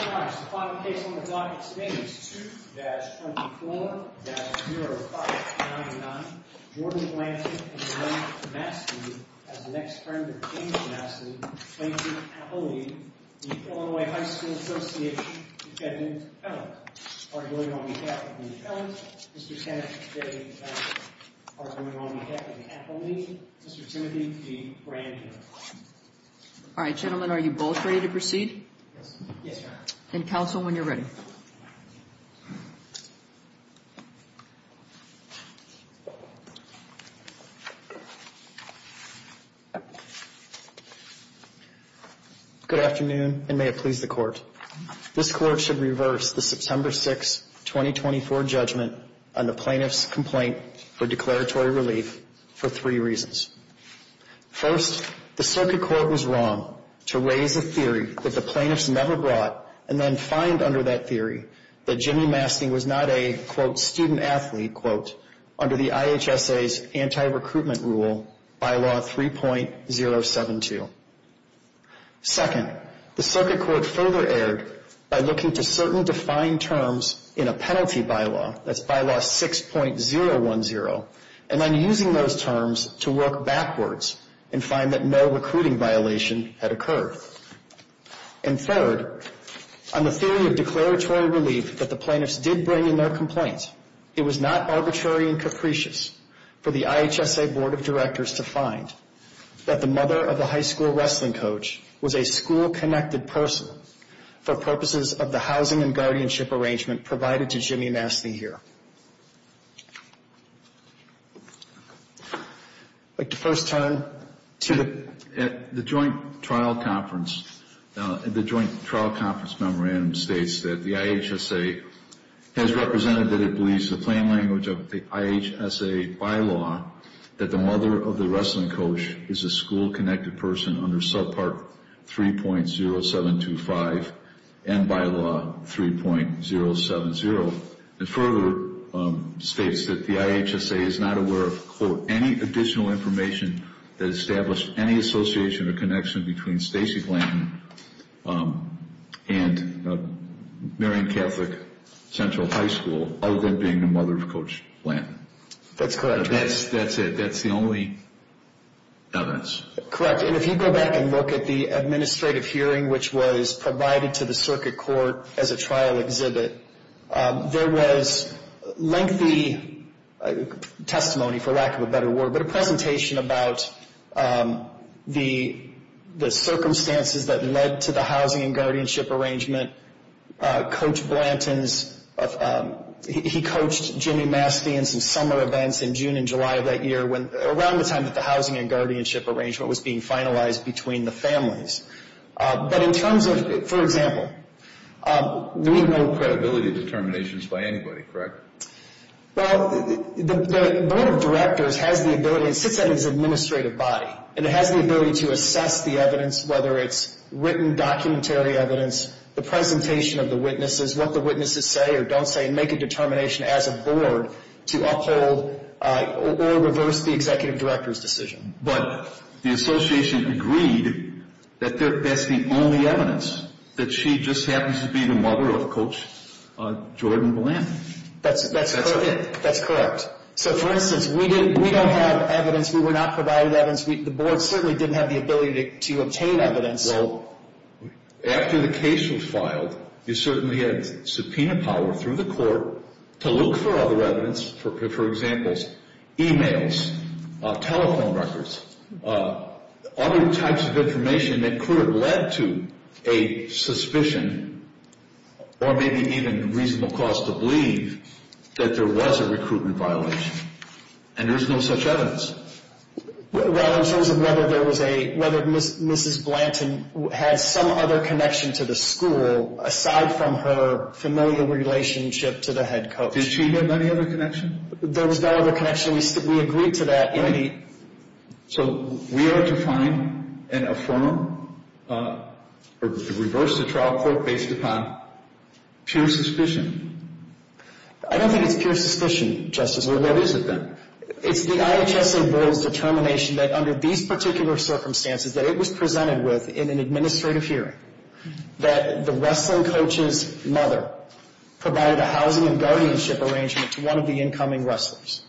All right, the final case on the docket today is 2-24-0599, Jordan Blanton v. Blanton v. Mastin, as the next turn for James Mastin, Blanton v. Appellee, the Illinois High School Association, defendant, felon. Arguing on behalf of the felons, Mr. Sennett v. Sennett, arguing on behalf of the Appellee, Mr. Timothy v. Brandt. All right, gentlemen, are you both ready to proceed? Yes, Your Honor. And counsel, when you're ready. Good afternoon, and may it please the Court. This Court should reverse the September 6, 2024 judgment on the plaintiff's complaint for declaratory relief for three reasons. First, the Circuit Court was wrong to raise a theory that the plaintiffs never brought, and then find under that theory that Jimmy Mastin was not a, quote, student athlete, quote, under the IHSA's anti-recruitment rule, Bylaw 3.072. Second, the Circuit Court further erred by looking to certain defined terms in a penalty bylaw, that's Bylaw 6.010, and then using those terms to work backwards and find that no recruiting violation had occurred. And third, on the theory of declaratory relief that the plaintiffs did bring in their complaint, it was not arbitrary and capricious for the IHSA Board of Directors to find that the mother of the high school wrestling coach was a school-connected person for purposes of the housing and guardianship arrangement provided to Jimmy Mastin here. I'd like to first turn to the At the joint trial conference, the joint trial conference memorandum states that the IHSA has represented that it believes the plain language of the IHSA bylaw that the mother of the wrestling coach is a school-connected person under Subpart 3.0725 and Bylaw 3.070. The further states that the IHSA is not aware of, quote, any additional information that established any association or connection between Stacy Blanton and Marion Catholic Central High School other than being the mother of Coach Blanton. That's correct. That's it. That's the only evidence. Correct. And if you go back and look at the administrative hearing, which was provided to the circuit court as a trial exhibit, there was lengthy testimony, for lack of a better word, but a presentation about the circumstances that led to the housing and guardianship arrangement. Coach Blanton's, he coached Jimmy Mastin in some summer events in June and July of that year, around the time that the housing and guardianship arrangement was being finalized between the families. But in terms of, for example, we know No credibility determinations by anybody, correct? Well, the board of directors has the ability, it sits in its administrative body, and it has the ability to assess the evidence, whether it's written documentary evidence, the presentation of the witnesses, what the witnesses say or don't say, and make a determination as a board to uphold or reverse the executive director's decision. But the association agreed that that's the only evidence, that she just happens to be the mother of Coach Jordan Blanton. That's correct. So for instance, we don't have evidence, we were not provided evidence, the board certainly didn't have the ability to obtain evidence. Well, after the case was filed, you certainly had subpoena power through the court to look for other evidence, for example, e-mails, telephone records, other types of information that could have led to a suspicion, or maybe even reasonable cause to believe, that there was a recruitment violation. And there's no such evidence. Well, in terms of whether there was a, whether Mrs. Blanton had some other connection to the school, aside from her familiar relationship to the head coach. Did she have any other connection? There was no other connection. We agreed to that in the So we are to find an affirmative, or reverse the trial court based upon pure suspicion? I don't think it's pure suspicion, Justice Breyer. Well, what is it then? It's the IHSA board's determination that under these particular circumstances, that it was presented with in an administrative hearing, that the wrestling coach's mother provided a housing and guardianship arrangement to one of the incoming wrestlers.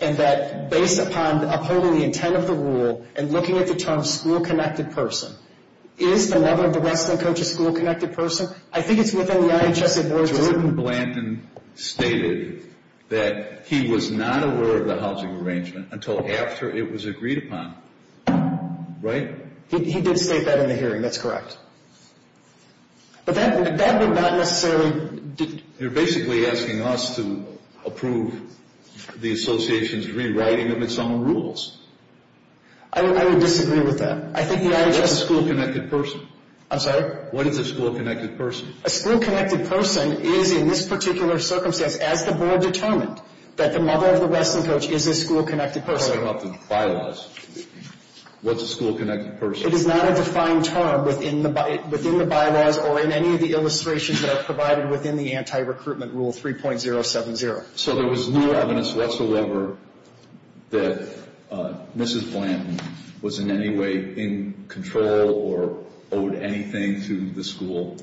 And that based upon upholding the intent of the rule, and looking at the term school-connected person, is the mother of the wrestling coach a school-connected person? I think it's within the IHSA board's stated that he was not aware of the housing arrangement until after it was agreed upon. Right? He did state that in the hearing. That's correct. But that would not necessarily You're basically asking us to approve the association's rewriting of its own rules. I would disagree with that. I think the IHSA What is a school-connected person? I'm sorry? What is a school-connected person? A school-connected person is in this particular circumstance, as the board determined, that the mother of the wrestling coach is a school-connected person. What about the bylaws? What's a school-connected person? It is not a defined term within the bylaws or in any of the illustrations that are provided within the anti-recruitment rule 3.070. So there was no evidence whatsoever that Mrs. Blanton was in any way in control or owed anything to the school?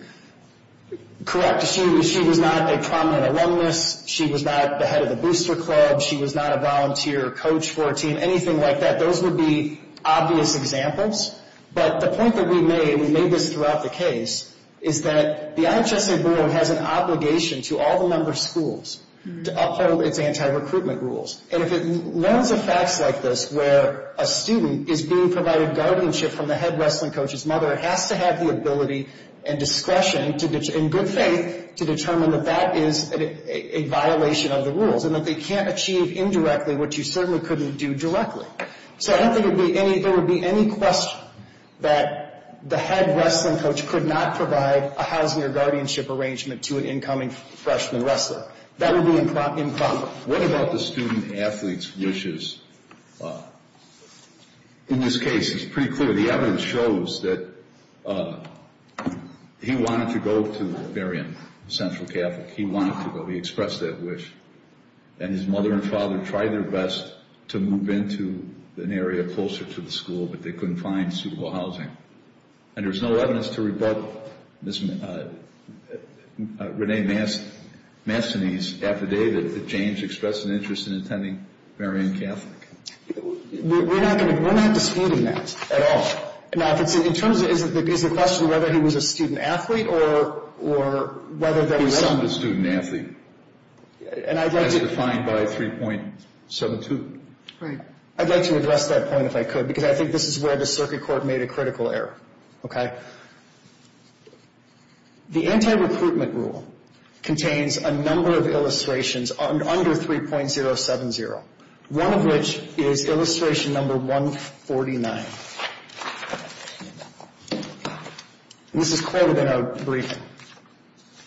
Correct. She was not a prominent alumnus. She was not the head of the booster club. She was not a volunteer coach for a team. Anything like that. Those would be obvious examples. But the point that we made, and we made this throughout the case, is that the IHSA board has an obligation to all the member schools to uphold its anti-recruitment rules. And if it learns of facts like this, where a student is being provided guardianship from the head wrestling coach's mother, it has to have the ability and discretion, in good faith, to determine that that is a violation of the rules, and that they can't achieve indirectly what you certainly couldn't do directly. So I don't think there would be any question that the head wrestling coach could not provide a housing or guardianship arrangement to an incoming freshman wrestler. That would be improper. What about the student athlete's wishes? In this case, it's pretty clear. The evidence shows that he wanted to go to Barium, Central Catholic. He wanted to go. He expressed that wish. And his mother and father tried their best to move into an area closer to the school, but they couldn't find suitable housing. And there's no evidence to rebut Ms. Renee Massonese's affidavit that James expressed an interest in attending Barium Catholic. We're not disputing that at all. Now, in terms of – is the question whether he was a student athlete or whether there was some – And I'd like to – As defined by 3.72. Right. I'd like to address that point, if I could, because I think this is where the circuit court made a critical error. Okay? The anti-recruitment rule contains a number of illustrations under 3.070, one of which is illustration number 149. This is quoted in our briefing.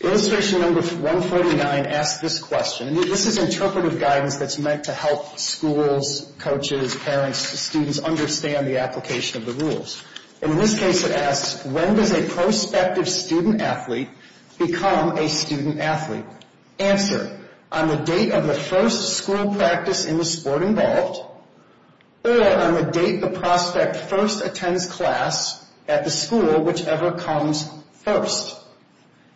Illustration number 149 asks this question. This is interpretive guidance that's meant to help schools, coaches, parents, students understand the application of the rules. And in this case, it asks, when does a prospective student athlete become a student athlete? Answer. On the date of the first school practice in the sport involved or on the date the prospect first attends class at the school, whichever comes first.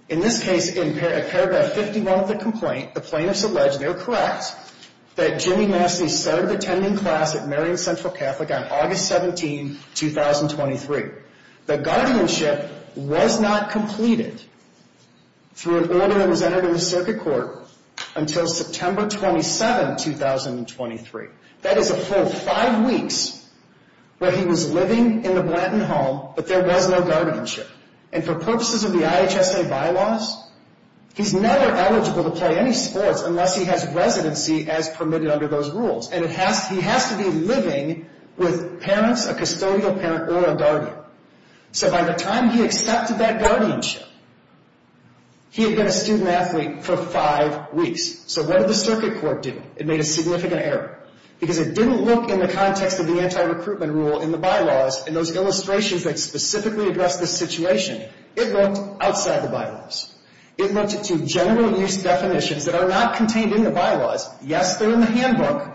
In this case, in paragraph 51 of the complaint, the plaintiffs allege – they're correct – that Jimmy Massonese started attending class at Marion Central Catholic on August 17, 2023. The guardianship was not completed through an order that was entered in the circuit court until September 27, 2023. That is a full five weeks where he was living in the Blanton home, but there was no guardianship. And for purposes of the IHSA bylaws, he's never eligible to play any sports unless he has residency as permitted under those rules. And he has to be living with parents, a custodial parent, or a guardian. So by the time he accepted that guardianship, he had been a student athlete for five weeks. So what did the circuit court do? It made a significant error. Because it didn't look in the context of the anti-recruitment rule in the bylaws in those illustrations that specifically address this situation. It looked outside the bylaws. It looked at two general use definitions that are not contained in the bylaws. Yes, they're in the handbook.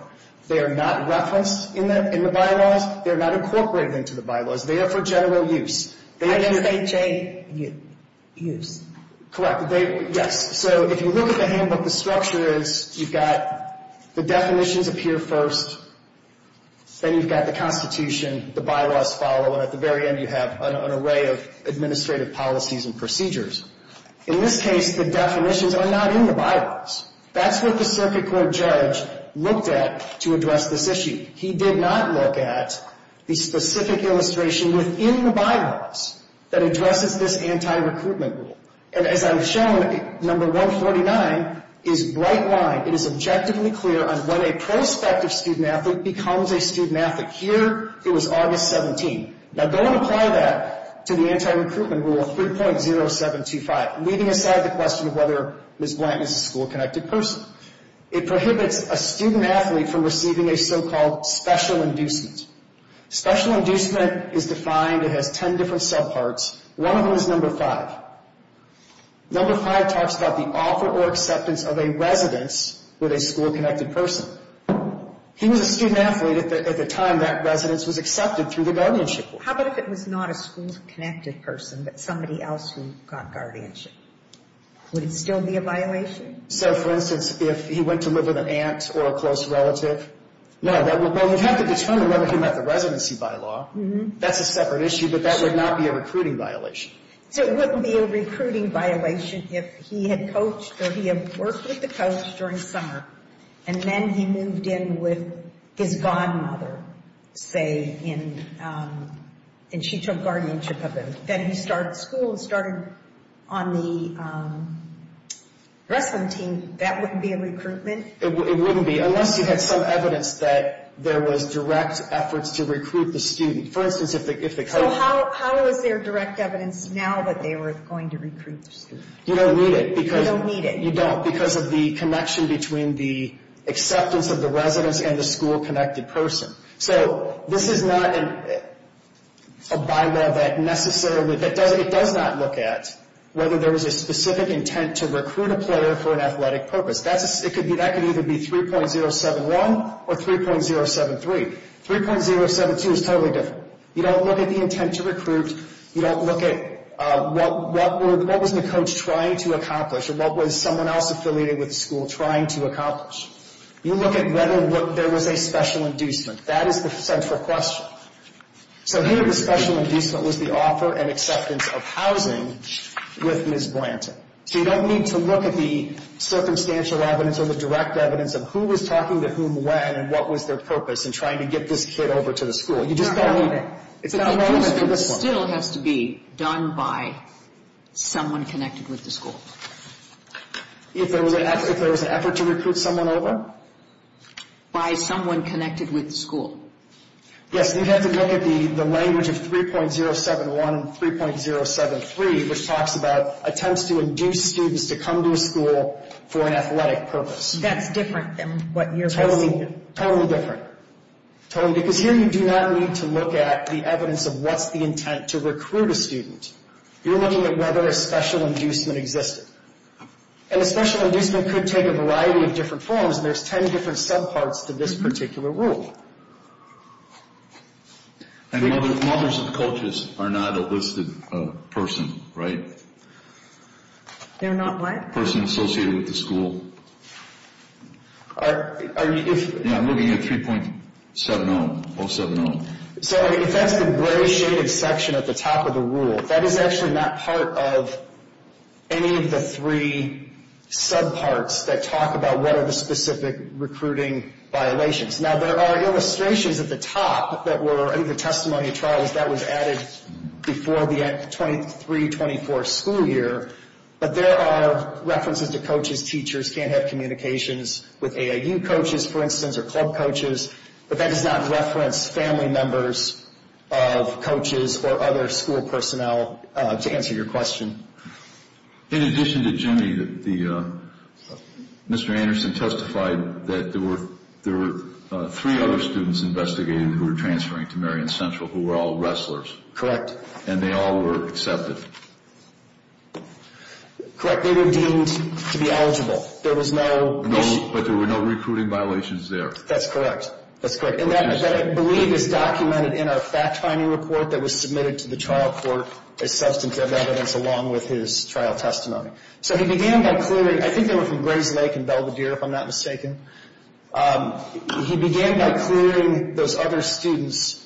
They are not referenced in the bylaws. They are not incorporated into the bylaws. They are for general use. IHSA use. Correct. Yes. So if you look at the handbook, the structure is you've got the definitions appear first. Then you've got the Constitution. The bylaws follow. And at the very end, you have an array of administrative policies and procedures. In this case, the definitions are not in the bylaws. That's what the circuit court judge looked at to address this issue. He did not look at the specific illustration within the bylaws that addresses this anti-recruitment rule. And as I've shown, number 149 is bright line. It is objectively clear on when a prospective student-athlete becomes a student-athlete. Here, it was August 17. Now, go and apply that to the anti-recruitment rule 3.0725, leaving aside the question of whether Ms. Blanton is a school-connected person. It prohibits a student-athlete from receiving a so-called special inducement. Special inducement is defined. It has ten different subparts. One of them is number five. Number five talks about the offer or acceptance of a residence with a school-connected person. He was a student-athlete at the time that residence was accepted through the guardianship board. How about if it was not a school-connected person but somebody else who got guardianship? Would it still be a violation? So, for instance, if he went to live with an aunt or a close relative? No. Well, you'd have to determine whether he met the residency bylaw. That's a separate issue, but that would not be a recruiting violation. So it wouldn't be a recruiting violation if he had coached or he had worked with the coach during the summer and then he moved in with his godmother, say, in Chitok guardianship. Then he started school and started on the wrestling team. That wouldn't be a recruitment? It wouldn't be unless you had some evidence that there was direct efforts to recruit the student. So how is there direct evidence now that they were going to recruit the student? You don't need it. You don't need it. You don't because of the connection between the acceptance of the residence and the school-connected person. So this is not a bylaw that necessarily—it does not look at whether there was a specific intent to recruit a player for an athletic purpose. That could either be 3.071 or 3.073. 3.072 is totally different. You don't look at the intent to recruit. You don't look at what was the coach trying to accomplish or what was someone else affiliated with the school trying to accomplish. You look at whether there was a special inducement. That is the central question. So here the special inducement was the offer and acceptance of housing with Ms. Branton. So you don't need to look at the circumstantial evidence or the direct evidence of who was talking to whom when and what was their purpose in trying to get this kid over to the school. You just don't need it. Inducement still has to be done by someone connected with the school. If there was an effort to recruit someone over? By someone connected with the school. Yes, you have to look at the language of 3.071 and 3.073, which talks about attempts to induce students to come to a school for an athletic purpose. That's different than what you're looking at. Totally different. Totally. Because here you do not need to look at the evidence of what's the intent to recruit a student. You're looking at whether a special inducement existed. And a special inducement could take a variety of different forms, and there's 10 different subparts to this particular rule. And mothers and coaches are not a listed person, right? They're not what? A person associated with the school. I'm looking at 3.70, 070. So if that's the gray shaded section at the top of the rule, that is actually not part of any of the three subparts that talk about what are the specific recruiting violations. Now, there are illustrations at the top that were in the testimony trials that was added before the 23-24 school year, but there are references to coaches, teachers can't have communications with AAU coaches, for instance, or club coaches, but that does not reference family members of coaches or other school personnel to answer your question. In addition to Jimmy, Mr. Anderson testified that there were three other students investigated who were transferring to Marion Central who were all wrestlers. Correct. And they all were accepted. Correct. They were deemed to be eligible. There was no issue. But there were no recruiting violations there. That's correct. That's correct. And that, I believe, is documented in our fact-finding report that was submitted to the trial court as substantive evidence along with his trial testimony. So he began by clearing, I think they were from Grayslake and Belvedere, if I'm not mistaken. He began by clearing those other students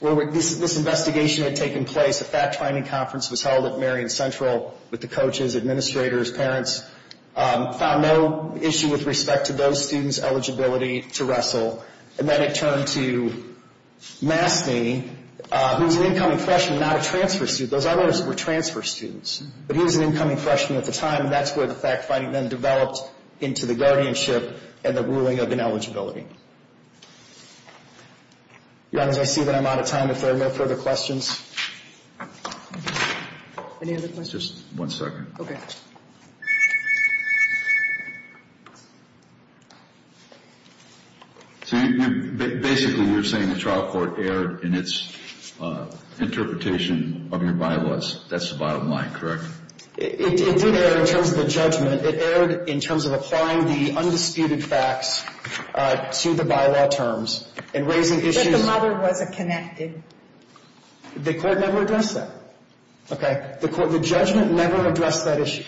where this investigation had taken place. A fact-finding conference was held at Marion Central with the coaches, administrators, parents, found no issue with respect to those students' eligibility to wrestle, and then it turned to Mastney, who was an incoming freshman, not a transfer student. Those others were transfer students, but he was an incoming freshman at the time, and that's where the fact-finding then developed into the guardianship and the ruling of ineligibility. Your Honors, I see that I'm out of time. If there are no further questions. Any other questions? Just one second. Okay. So basically you're saying the trial court erred in its interpretation of your bylaws. That's the bottom line, correct? It did err in terms of the judgment. It erred in terms of applying the undisputed facts to the bylaw terms and raising issues. But the mother wasn't connected. The court never addressed that. Okay. The judgment never addressed that issue.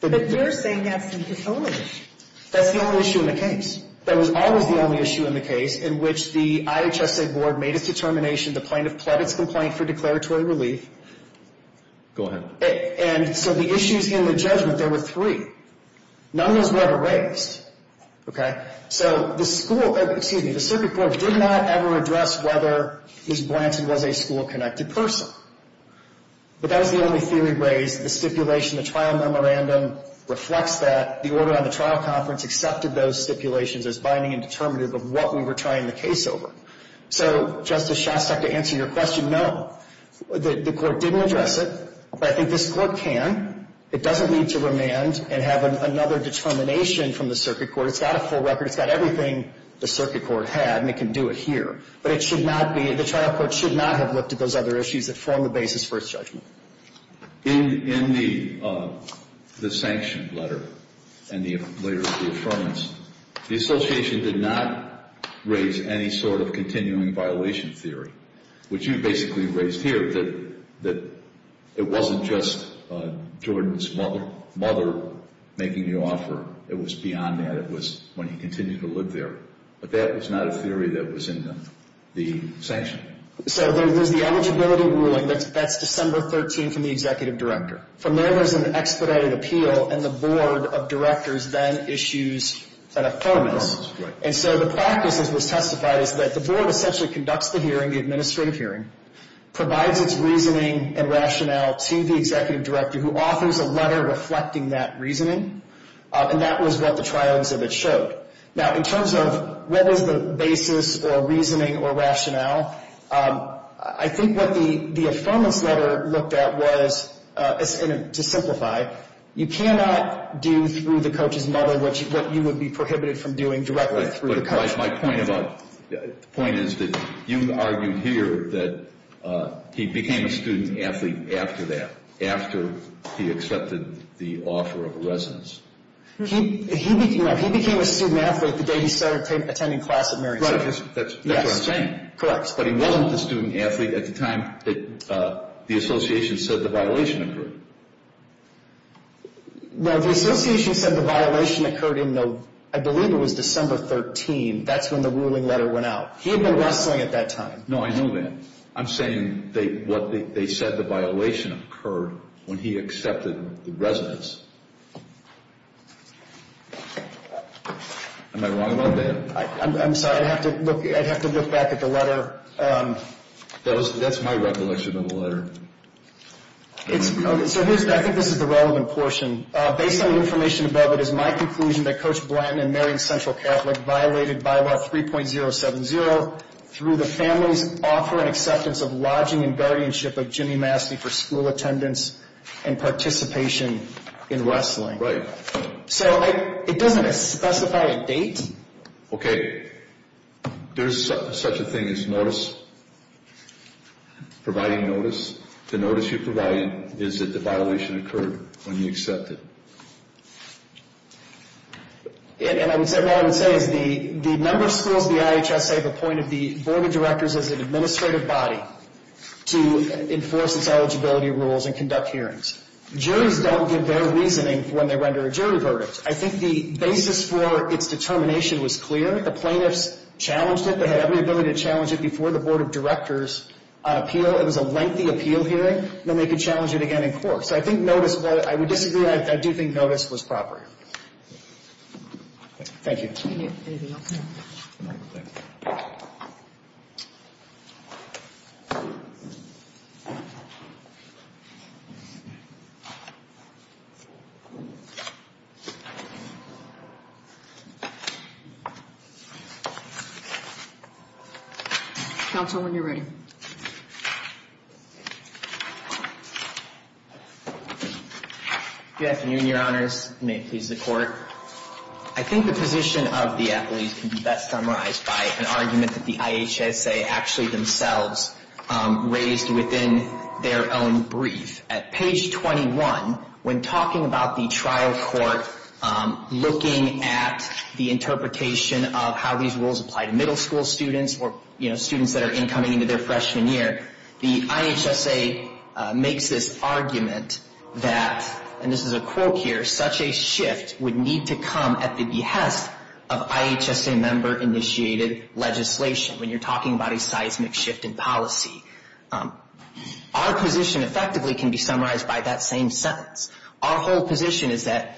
But you're saying that's the only issue. That's the only issue in the case. That was always the only issue in the case in which the IHSA board made its determination to plead its complaint for declaratory relief. Go ahead. And so the issues in the judgment, there were three. None of those were ever raised. Okay. So the school, excuse me, the circuit court did not ever address whether Ms. Blanton was a school-connected person. But that was the only theory raised. The stipulation, the trial memorandum reflects that. The order on the trial conference accepted those stipulations as binding and determinative of what we were trying the case over. So, Justice Shostak, to answer your question, no. The court didn't address it. But I think this court can. It doesn't need to remand and have another determination from the circuit court. It's got a full record. It's got everything the circuit court had, and it can do it here. But it should not be, the trial court should not have looked at those other issues that form the basis for its judgment. In the sanctioned letter and the letter of the affirmance, the association did not raise any sort of continuing violation theory, which you basically raised here, that it wasn't just Jordan's mother making the offer. It was beyond that. It was when he continued to live there. But that was not a theory that was in the sanction. So there's the eligibility ruling. That's December 13th from the executive director. From there, there's an expedited appeal, and the board of directors then issues an affirmance. Affirmance, right. And so the practice, as was testified, is that the board essentially conducts the hearing, the administrative hearing, provides its reasoning and rationale to the executive director, who offers a letter reflecting that reasoning. And that was what the trial exhibit showed. Now, in terms of what is the basis or reasoning or rationale, I think what the affirmance letter looked at was, to simplify, you cannot do through the coach's mother what you would be prohibited from doing directly through the coach. But my point is that you argued here that he became a student athlete after that, after he accepted the offer of residence. No, he became a student athlete the day he started attending class at Marion Center. Right, that's what I'm saying. Yes, correct. But he wasn't the student athlete at the time that the association said the violation occurred. No, the association said the violation occurred in, I believe it was December 13th. That's when the ruling letter went out. He had been wrestling at that time. No, I know that. I'm saying they said the violation occurred when he accepted the residence. Am I wrong about that? I'm sorry. I'd have to look back at the letter. That's my recollection of the letter. So I think this is the relevant portion. Based on the information above, it is my conclusion that Coach Blanton and Marion Central Catholic violated Bylaw 3.070 through the family's offer and acceptance of lodging and guardianship of Jimmy Masti for school attendance and participation in wrestling. Right. So it doesn't specify a date? Okay. There's such a thing as notice, providing notice. The notice you're providing is that the violation occurred when you accepted. And what I would say is the number of schools the IHSA appointed the Board of Directors as an administrative body to enforce its eligibility rules and conduct hearings. Juries don't give their reasoning when they render a jury verdict. I think the basis for its determination was clear. The plaintiffs challenged it. They had every ability to challenge it before the Board of Directors appeal. It was a lengthy appeal hearing. Then they could challenge it again in court. So I think notice, while I would disagree, I do think notice was proper. Thank you. Anything else? Counsel, when you're ready. Good afternoon, Your Honors. May it please the Court. I think the position of the athletes can be best summarized by an argument that the IHSA actually themselves raised within their own brief. At page 21, when talking about the trial court looking at the interpretation of how these rules apply to middle school students or, you know, students that are incoming into their freshman year, the IHSA makes this argument that, and this is a quote here, such a shift would need to come at the behest of IHSA member-initiated legislation when you're talking about a seismic shift in policy. Our position effectively can be summarized by that same sentence. Our whole position is that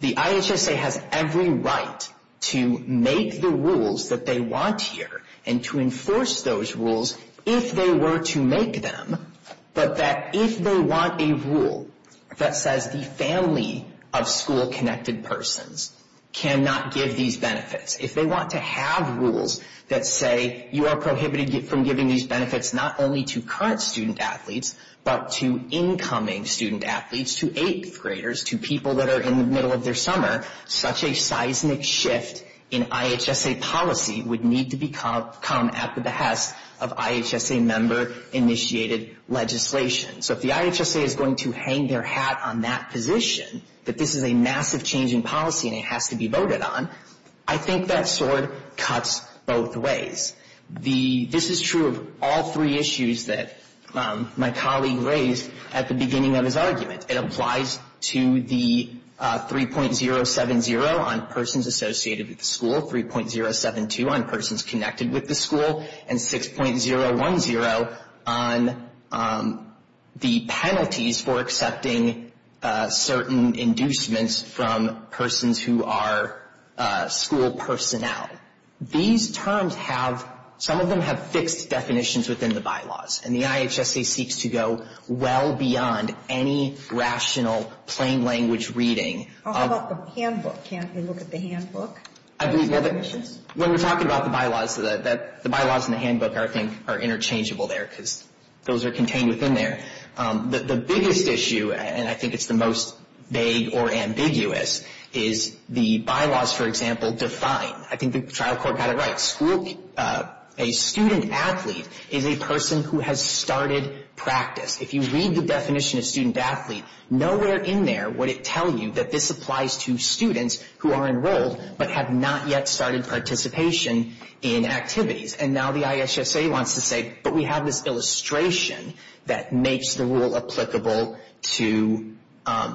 the IHSA has every right to make the rules that they want here and to enforce those rules if they were to make them, but that if they want a rule that says the family of school-connected persons cannot give these benefits, if they want to have rules that say you are prohibited from giving these benefits not only to current student-athletes, but to incoming student-athletes, to eighth-graders, to people that are in the middle of their summer, such a seismic shift in IHSA policy would need to come at the behest of IHSA member-initiated legislation. So if the IHSA is going to hang their hat on that position, that this is a massive change in policy and it has to be voted on, I think that sword cuts both ways. This is true of all three issues that my colleague raised at the beginning of his argument. It applies to the 3.070 on persons associated with the school, 3.072 on persons connected with the school, and 6.010 on the penalties for accepting certain inducements from persons who are school personnel. These terms have, some of them have fixed definitions within the bylaws. And the IHSA seeks to go well beyond any rational plain language reading. How about the handbook? Can't we look at the handbook? When we're talking about the bylaws, the bylaws in the handbook I think are interchangeable there because those are contained within there. The biggest issue, and I think it's the most vague or ambiguous, is the bylaws, for example, define. I think the trial court got it right. A student athlete is a person who has started practice. If you read the definition of student athlete, nowhere in there would it tell you that this applies to students who are enrolled but have not yet started participation in activities. And now the IHSA wants to say, but we have this illustration that makes the rule applicable to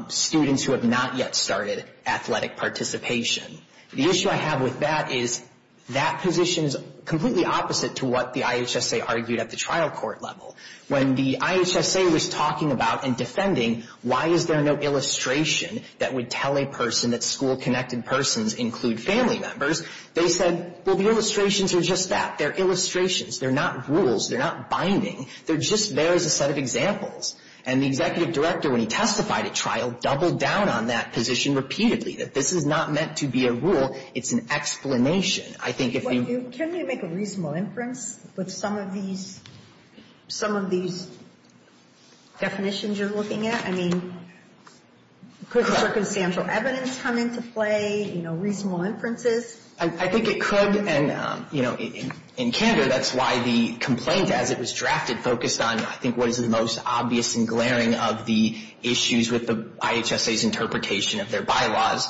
students who have not yet started athletic participation. The issue I have with that is that position is completely opposite to what the IHSA argued at the trial court level. When the IHSA was talking about and defending why is there no illustration that would tell a person that school-connected persons include family members, they said, well, the illustrations are just that. They're illustrations. They're not rules. They're not binding. They're just there as a set of examples. And the executive director, when he testified at trial, doubled down on that position repeatedly, that this is not meant to be a rule. It's an explanation. I think if you — Can we make a reasonable inference with some of these definitions you're looking at? I mean, could circumstantial evidence come into play, you know, reasonable inferences? I think it could. And, you know, in candor, that's why the complaint as it was drafted focused on, I think, what is the most obvious and glaring of the issues with the IHSA's interpretation of their bylaws,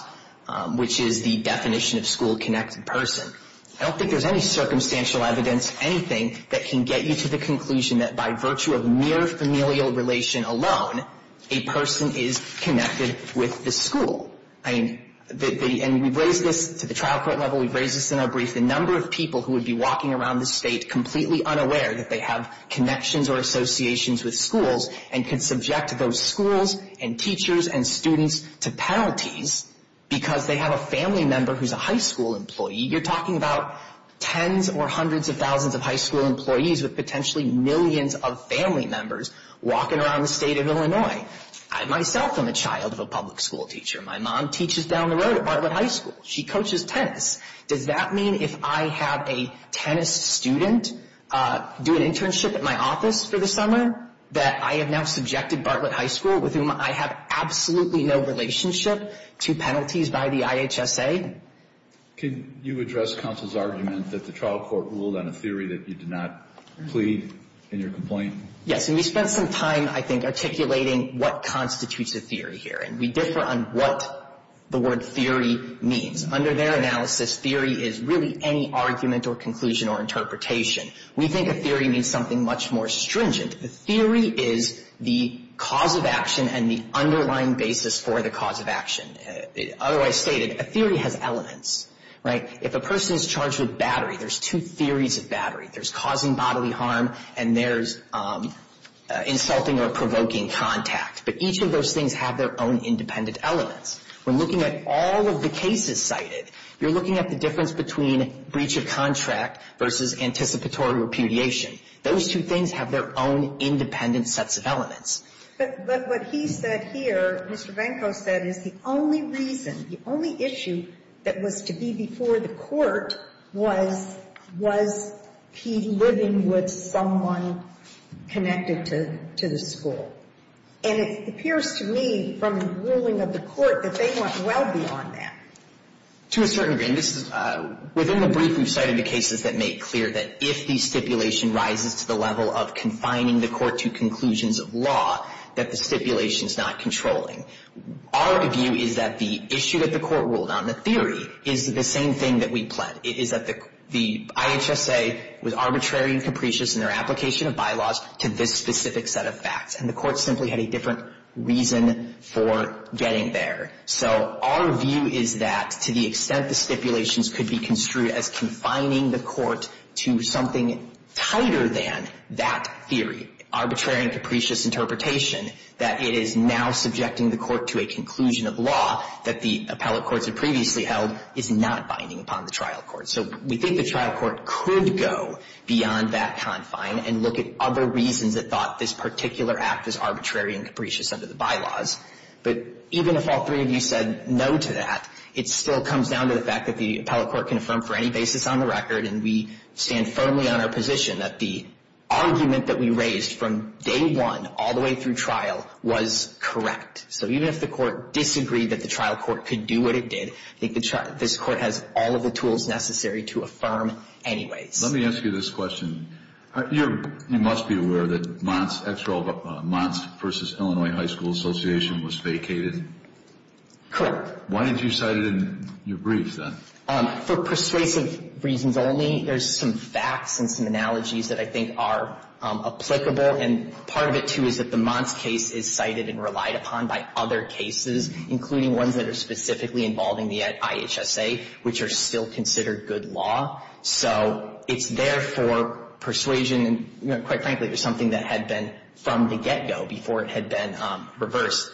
which is the definition of school-connected person. I don't think there's any circumstantial evidence, anything, that can get you to the conclusion that by virtue of mere familial relation alone, a person is connected with the school. I mean, and we've raised this to the trial court level. We've raised this in our brief. The number of people who would be walking around the state completely unaware that they have connections or associations with schools and can subject those schools and teachers and students to penalties because they have a family member who's a high school employee. You're talking about tens or hundreds of thousands of high school employees with potentially millions of family members walking around the state of Illinois. I, myself, am a child of a public school teacher. My mom teaches down the road at Bartlett High School. She coaches tennis. Does that mean if I have a tennis student do an internship at my office for the summer that I have now subjected Bartlett High School, with whom I have absolutely no relationship to penalties by the IHSA? Can you address counsel's argument that the trial court ruled on a theory that you did not plead in your complaint? Yes, and we spent some time, I think, articulating what constitutes a theory here, and we differ on what the word theory means. Under their analysis, theory is really any argument or conclusion or interpretation. We think a theory means something much more stringent. A theory is the cause of action and the underlying basis for the cause of action. Otherwise stated, a theory has elements, right? If a person is charged with battery, there's two theories of battery. There's causing bodily harm and there's insulting or provoking contact. But each of those things have their own independent elements. When looking at all of the cases cited, you're looking at the difference between breach of contract versus anticipatory repudiation. Those two things have their own independent sets of elements. But what he said here, Mr. Venko said, is the only reason, the only issue that was to be before the court was, was he living with someone connected to the school. And it appears to me from the ruling of the court that they went well beyond that. To a certain degree. Within the brief we've cited the cases that make clear that if the stipulation rises to the level of confining the court to conclusions of law, that the stipulation is not controlling. Our view is that the issue that the court ruled on, the theory, is the same thing that we planned. It is that the IHSA was arbitrary and capricious in their application of bylaws to this specific set of facts. And the court simply had a different reason for getting there. So our view is that to the extent the stipulations could be construed as confining the court to something tighter than that theory, arbitrary and capricious interpretation, that it is now subjecting the court to a conclusion of law that the appellate courts have previously held is not binding upon the trial court. So we think the trial court could go beyond that confine and look at other reasons that thought this particular act was arbitrary and capricious under the bylaws. But even if all three of you said no to that, it still comes down to the fact that the appellate court can affirm for any basis on the record, and we stand firmly on our position that the argument that we raised from day one all the way through trial was correct. So even if the court disagreed that the trial court could do what it did, I think this court has all of the tools necessary to affirm anyways. Let me ask you this question. You must be aware that Mons versus Illinois High School Association was vacated? Correct. Why did you cite it in your briefs then? For persuasive reasons only, there's some facts and some analogies that I think are applicable, and part of it, too, is that the Mons case is cited and relied upon by other cases, including ones that are specifically involving the IHSA, which are still considered good law. So it's there for persuasion, and quite frankly, it was something that had been from the get-go before it had been reversed.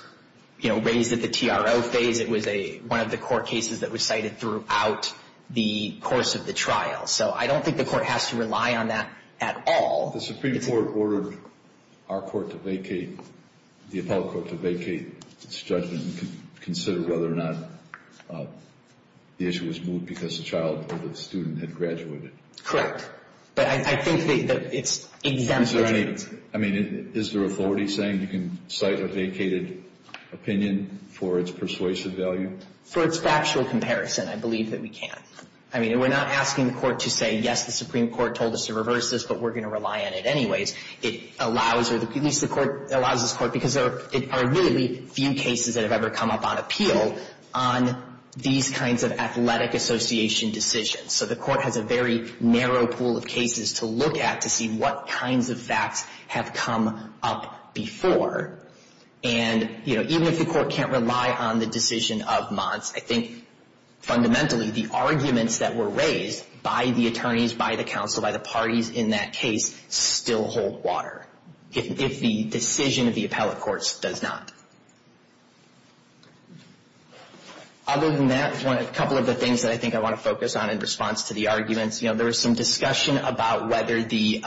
You know, raised at the TRO phase, it was one of the court cases that was cited throughout the course of the trial. So I don't think the court has to rely on that at all. The Supreme Court ordered our court to vacate, the appellate court to vacate its judgment and consider whether or not the issue was moved because the child or the student had graduated. Correct. But I think it's exempt. I mean, is there authority saying you can cite a vacated opinion for its persuasive value? For its factual comparison, I believe that we can. I mean, we're not asking the court to say, yes, the Supreme Court told us to reverse this, but we're going to rely on it anyways. It allows, or at least the court allows this court, because there are really few cases that have ever come up on appeal on these kinds of athletic association decisions. So the court has a very narrow pool of cases to look at to see what kinds of facts have come up before. And, you know, even if the court can't rely on the decision of Monts, I think fundamentally the arguments that were raised by the attorneys, by the counsel, by the parties in that case still hold water if the decision of the appellate courts does not. Other than that, a couple of the things that I think I want to focus on in response to the arguments. You know, there was some discussion about whether the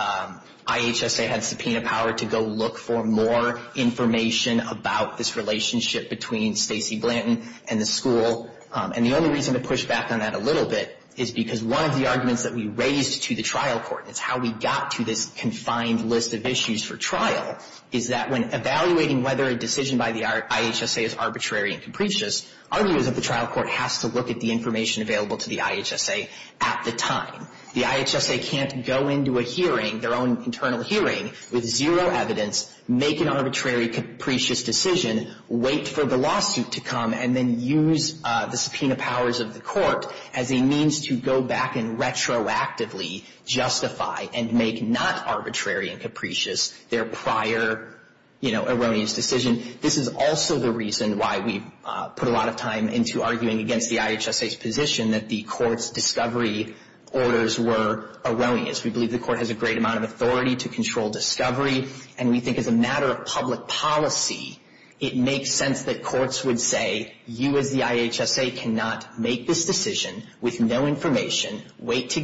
IHSA had subpoena power to go look for more information about this relationship between Stacey Blanton and the school. And the only reason to push back on that a little bit is because one of the arguments that we raised to the trial court, and it's how we got to this confined list of issues for trial, is that when evaluating whether a decision by the IHSA is arbitrary and capricious, our view is that the trial court has to look at the information available to the IHSA at the time. The IHSA can't go into a hearing, their own internal hearing, with zero evidence, make an arbitrary, capricious decision, wait for the lawsuit to come, and then use the subpoena powers of the court as a means to go back and retroactively justify and make not arbitrary and capricious their prior, you know, erroneous decision. This is also the reason why we put a lot of time into arguing against the IHSA's position that the court's discovery orders were erroneous. We believe the court has a great amount of authority to control discovery, and we think as a matter of public policy, it makes sense that courts would say, you as a judge, you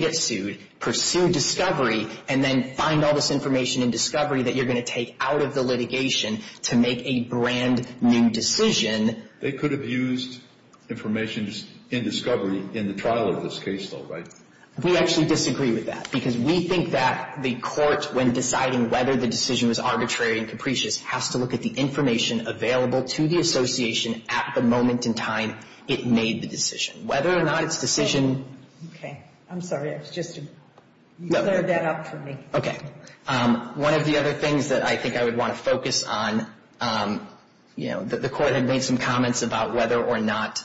get sued, pursue discovery, and then find all this information in discovery that you're going to take out of the litigation to make a brand new decision. They could have used information in discovery in the trial of this case, though, right? We actually disagree with that, because we think that the court, when deciding whether the decision was arbitrary and capricious, has to look at the information available to the association at the moment in time it made the decision. Whether or not it's decision Okay. I'm sorry. It was just to clear that up for me. Okay. One of the other things that I think I would want to focus on, you know, the court had made some comments about whether or not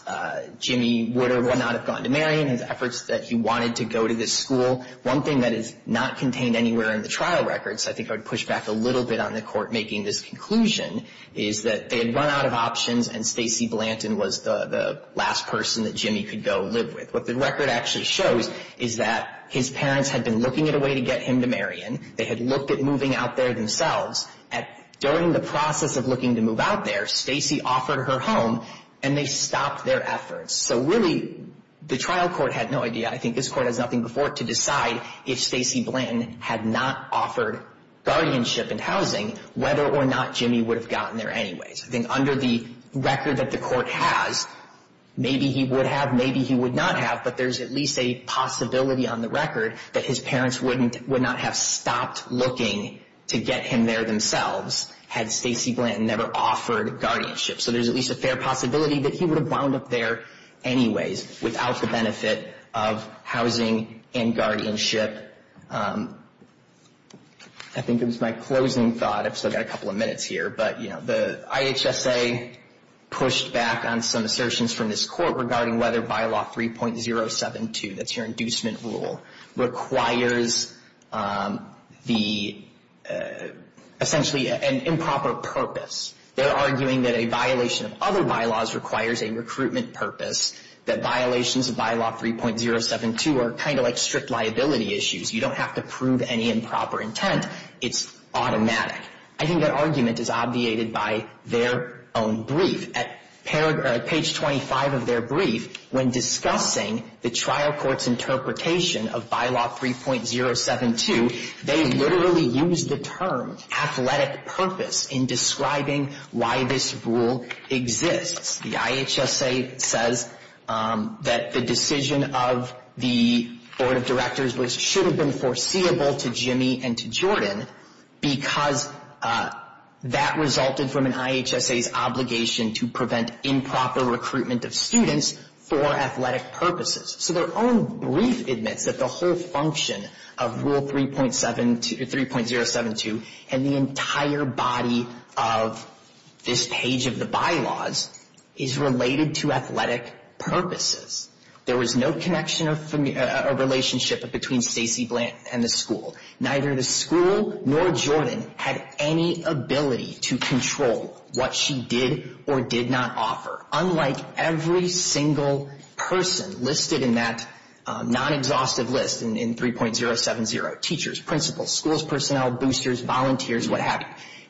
Jimmy would or would not have gone to Marion, his efforts that he wanted to go to this school. One thing that is not contained anywhere in the trial records, I think I would push back a little bit on the court making this conclusion, is that they had run out of options, and Stacey Blanton was the last person that Jimmy could go live with. What the record actually shows is that his parents had been looking at a way to get him to Marion. They had looked at moving out there themselves. During the process of looking to move out there, Stacey offered her home, and they stopped their efforts. So, really, the trial court had no idea. I think this court has nothing before it to decide if Stacey Blanton had not offered guardianship and housing, whether or not Jimmy would have gotten there anyways. I think under the record that the court has, maybe he would have, maybe he would not have, but there's at least a possibility on the record that his parents would not have stopped looking to get him there themselves had Stacey Blanton never offered guardianship. So there's at least a fair possibility that he would have wound up there anyways without the benefit of housing and guardianship. I think it was my closing thought, I've still got a couple of minutes here, but the IHSA pushed back on some assertions from this court regarding whether bylaw 3.072, that's your inducement rule, requires essentially an improper purpose. They're arguing that a violation of other bylaws requires a recruitment purpose, that violations of bylaw 3.072 are kind of like strict liability issues. You don't have to prove any improper intent. It's automatic. I think that argument is obviated by their own brief. At page 25 of their brief, when discussing the trial court's interpretation of bylaw 3.072, they literally used the term athletic purpose in describing why this rule exists. The IHSA says that the decision of the board of directors should have been foreseeable to Jimmy and to Jordan because that resulted from an IHSA's obligation to prevent improper recruitment of students for athletic purposes. So their own brief admits that the whole function of rule 3.072 and the entire body of this page of the bylaws is related to athletic purposes. There was no connection or relationship between Stacey Blandt and the school. Neither the school nor Jordan had any ability to control what she did or did not offer. Unlike every single person listed in that non-exhaustive list in 3.070, teachers, principals, schools, personnel, boosters, volunteers, what have you,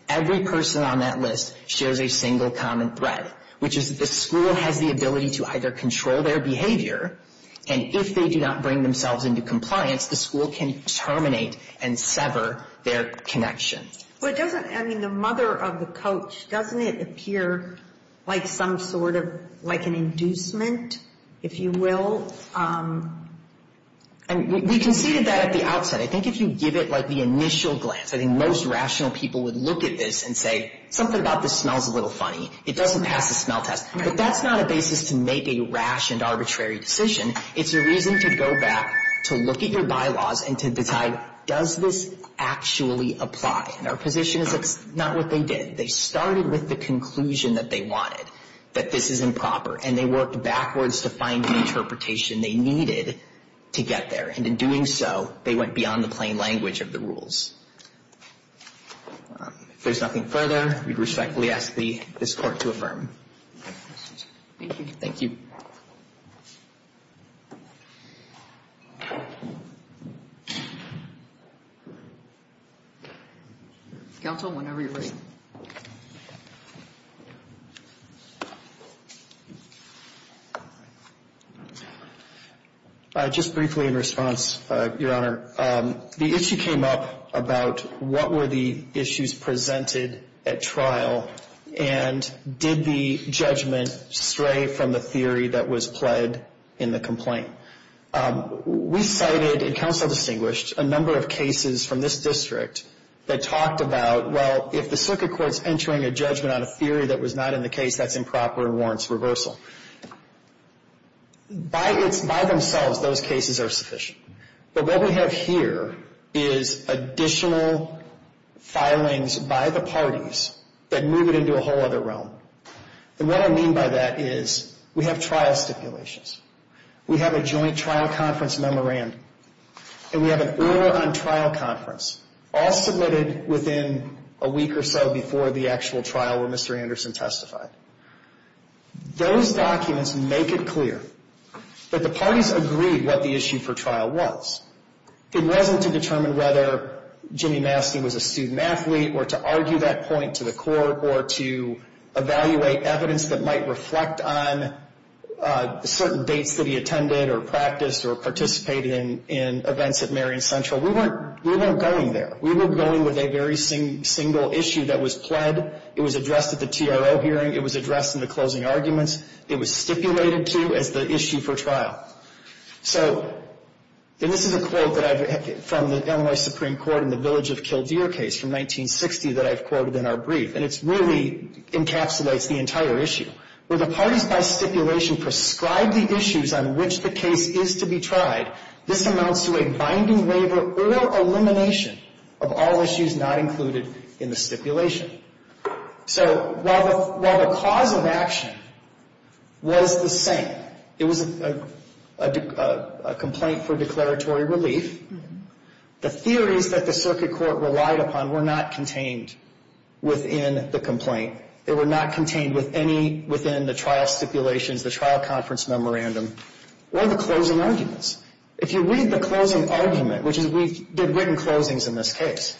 every person on that list shares a single common thread, which is that the school has the ability to either control their behavior and if they do not bring themselves into compliance, the school can terminate and sever their connection. But doesn't, I mean, the mother of the coach, doesn't it appear like some sort of, like an inducement, if you will? We conceded that at the outset. I think if you give it like the initial glance, I think most rational people would look at this and say, something about this smells a little funny. It doesn't pass the smell test. But that's not a basis to make a rationed, arbitrary decision. It's a reason to go back, to look at your bylaws and to decide, does this actually apply? And our position is it's not what they did. They started with the conclusion that they wanted, that this is improper, and they worked backwards to find the interpretation they needed to get there. And in doing so, they went beyond the plain language of the rules. If there's nothing further, we respectfully ask this Court to affirm. Thank you. Thank you. Counsel, whenever you're ready. Just briefly in response, Your Honor, the issue came up about what were the issues presented at trial and did the judgment stray from the theory that was pled in the complaint? We cited, and counsel distinguished, a number of cases from this district that talked about, well, if the circuit court's entering a judgment on a theory that was not in the case, that's improper and warrants reversal. By themselves, those cases are sufficient. But what we have here is additional filings by the parties that move it into a whole other realm. And what I mean by that is we have trial stipulations. We have a joint trial conference memorandum, and we have an order on trial conference, all submitted within a week or so before the actual trial where Mr. Anderson testified. Those documents make it clear that the parties agreed what the issue for trial was. It wasn't to determine whether Jimmy Mastey was a student athlete or to argue that point to the court or to evaluate evidence that might reflect on certain dates that he attended or practiced or participated in events at Marion Central. We weren't going there. We were going with a very single issue that was pled. It was addressed at the TRO hearing. It was addressed in the closing arguments. It was stipulated to as the issue for trial. So this is a quote from the Illinois Supreme Court in the Village of Kildare case from 1960 that I've quoted in our brief, and it really encapsulates the entire issue. Where the parties by stipulation prescribe the issues on which the case is to be tried, this amounts to a binding waiver or elimination of all issues not included in the stipulation. So while the cause of action was the same, it was a complaint for declaratory relief, the theories that the circuit court relied upon were not contained within the complaint. They were not contained within the trial stipulations, the trial conference memorandum, or the closing arguments. If you read the closing argument, which is we did written closings in this case,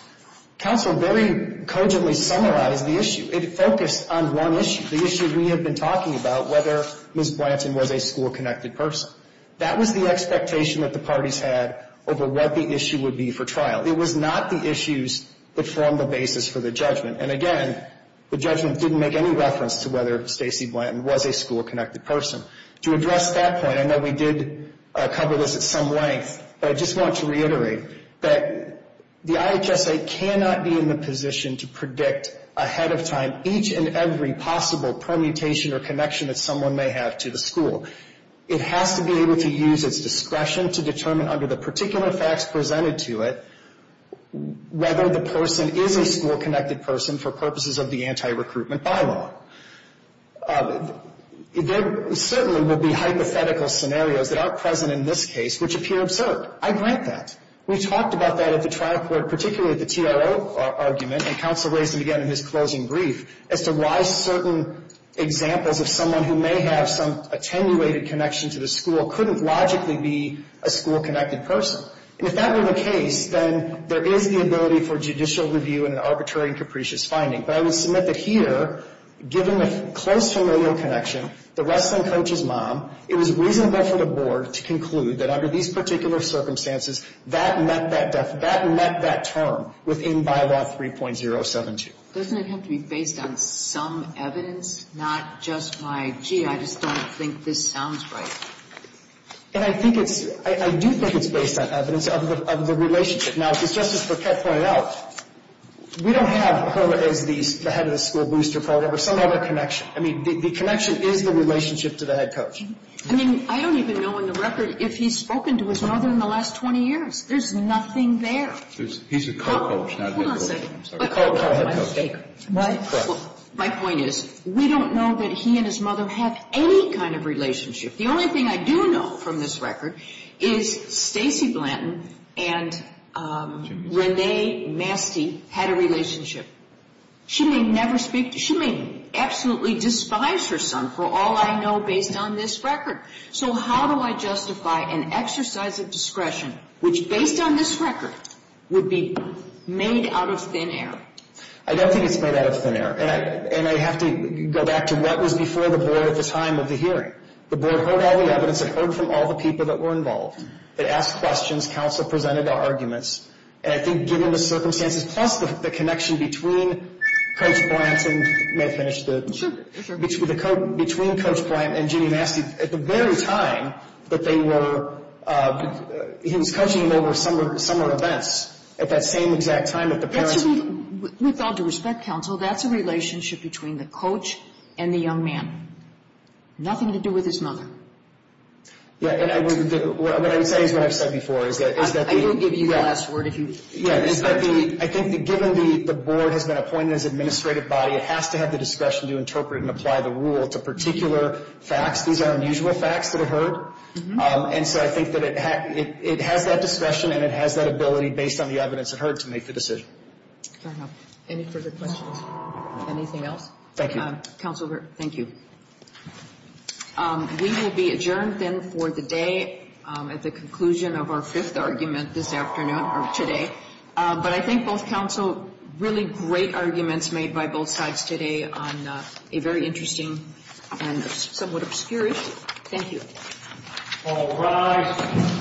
counsel very cogently summarized the issue. It focused on one issue, the issue we had been talking about, whether Ms. Blanton was a school-connected person. That was the expectation that the parties had over what the issue would be for trial. It was not the issues that formed the basis for the judgment. And again, the judgment didn't make any reference to whether Stacy Blanton was a school-connected person. To address that point, I know we did cover this at some length, but I just want to reiterate that the IHSA cannot be in the position to predict ahead of time each and every possible permutation or connection that someone may have to the school. It has to be able to use its discretion to determine under the particular facts presented to it whether the person is a school-connected person for purposes of the anti-recruitment bylaw. There certainly will be hypothetical scenarios that are present in this case which appear absurd. I grant that. We talked about that at the trial court, particularly at the TRO argument, and counsel raised it again in his closing brief, as to why certain examples of someone who may have some attenuated connection to the school couldn't logically be a school-connected person. And if that were the case, then there is the ability for judicial review and an arbitrary and capricious finding. But I will submit that here, given the close familial connection, the wrestling coach's mom, it was reasonable for the Board to conclude that under these particular circumstances, that met that term within Bylaw 3.072. Doesn't it have to be based on some evidence, not just by, gee, I just don't think this sounds right? And I think it's – I do think it's based on evidence of the relationship. Now, as Justice Burkett pointed out, we don't have her as the head of the school booster program or some other connection. I mean, the connection is the relationship to the head coach. I mean, I don't even know in the record if he's spoken to his mother in the last 20 years. There's nothing there. He's a co-coach, not a head coach. Hold on a second. My point is, we don't know that he and his mother have any kind of relationship. The only thing I do know from this record is Stacy Blanton and Renee Mastey had a relationship. She may never speak – she may absolutely despise her son for all I know based on this record. So how do I justify an exercise of discretion which, based on this record, would be made out of thin air? I don't think it's made out of thin air. And I have to go back to what was before the Board at the time of the hearing. The Board heard all the evidence. It heard from all the people that were involved. It asked questions. Counsel presented their arguments. And I think given the circumstances plus the connection between Coach Blanton – may I finish? Sure, sure. Between Coach Blanton and Ginny Mastey at the very time that they were – he was coaching them over summer events at that same exact time that the parents – With all due respect, counsel, that's a relationship between the coach and the young man. Nothing to do with his mother. Yeah, and what I would say is what I've said before is that – I can give you the last word if you – Yeah, I think that given the Board has been appointed as an administrative body, it has to have the discretion to interpret and apply the rule to particular facts. These are unusual facts that are heard. And so I think that it has that discretion and it has that ability based on the evidence it heard to make the decision. Any further questions? Anything else? Thank you. Counsel, thank you. We will be adjourned then for the day at the conclusion of our fifth argument this afternoon – or today. But I think both counsel – really great arguments made by both sides today on a very interesting and somewhat obscure issue. Thank you. All rise.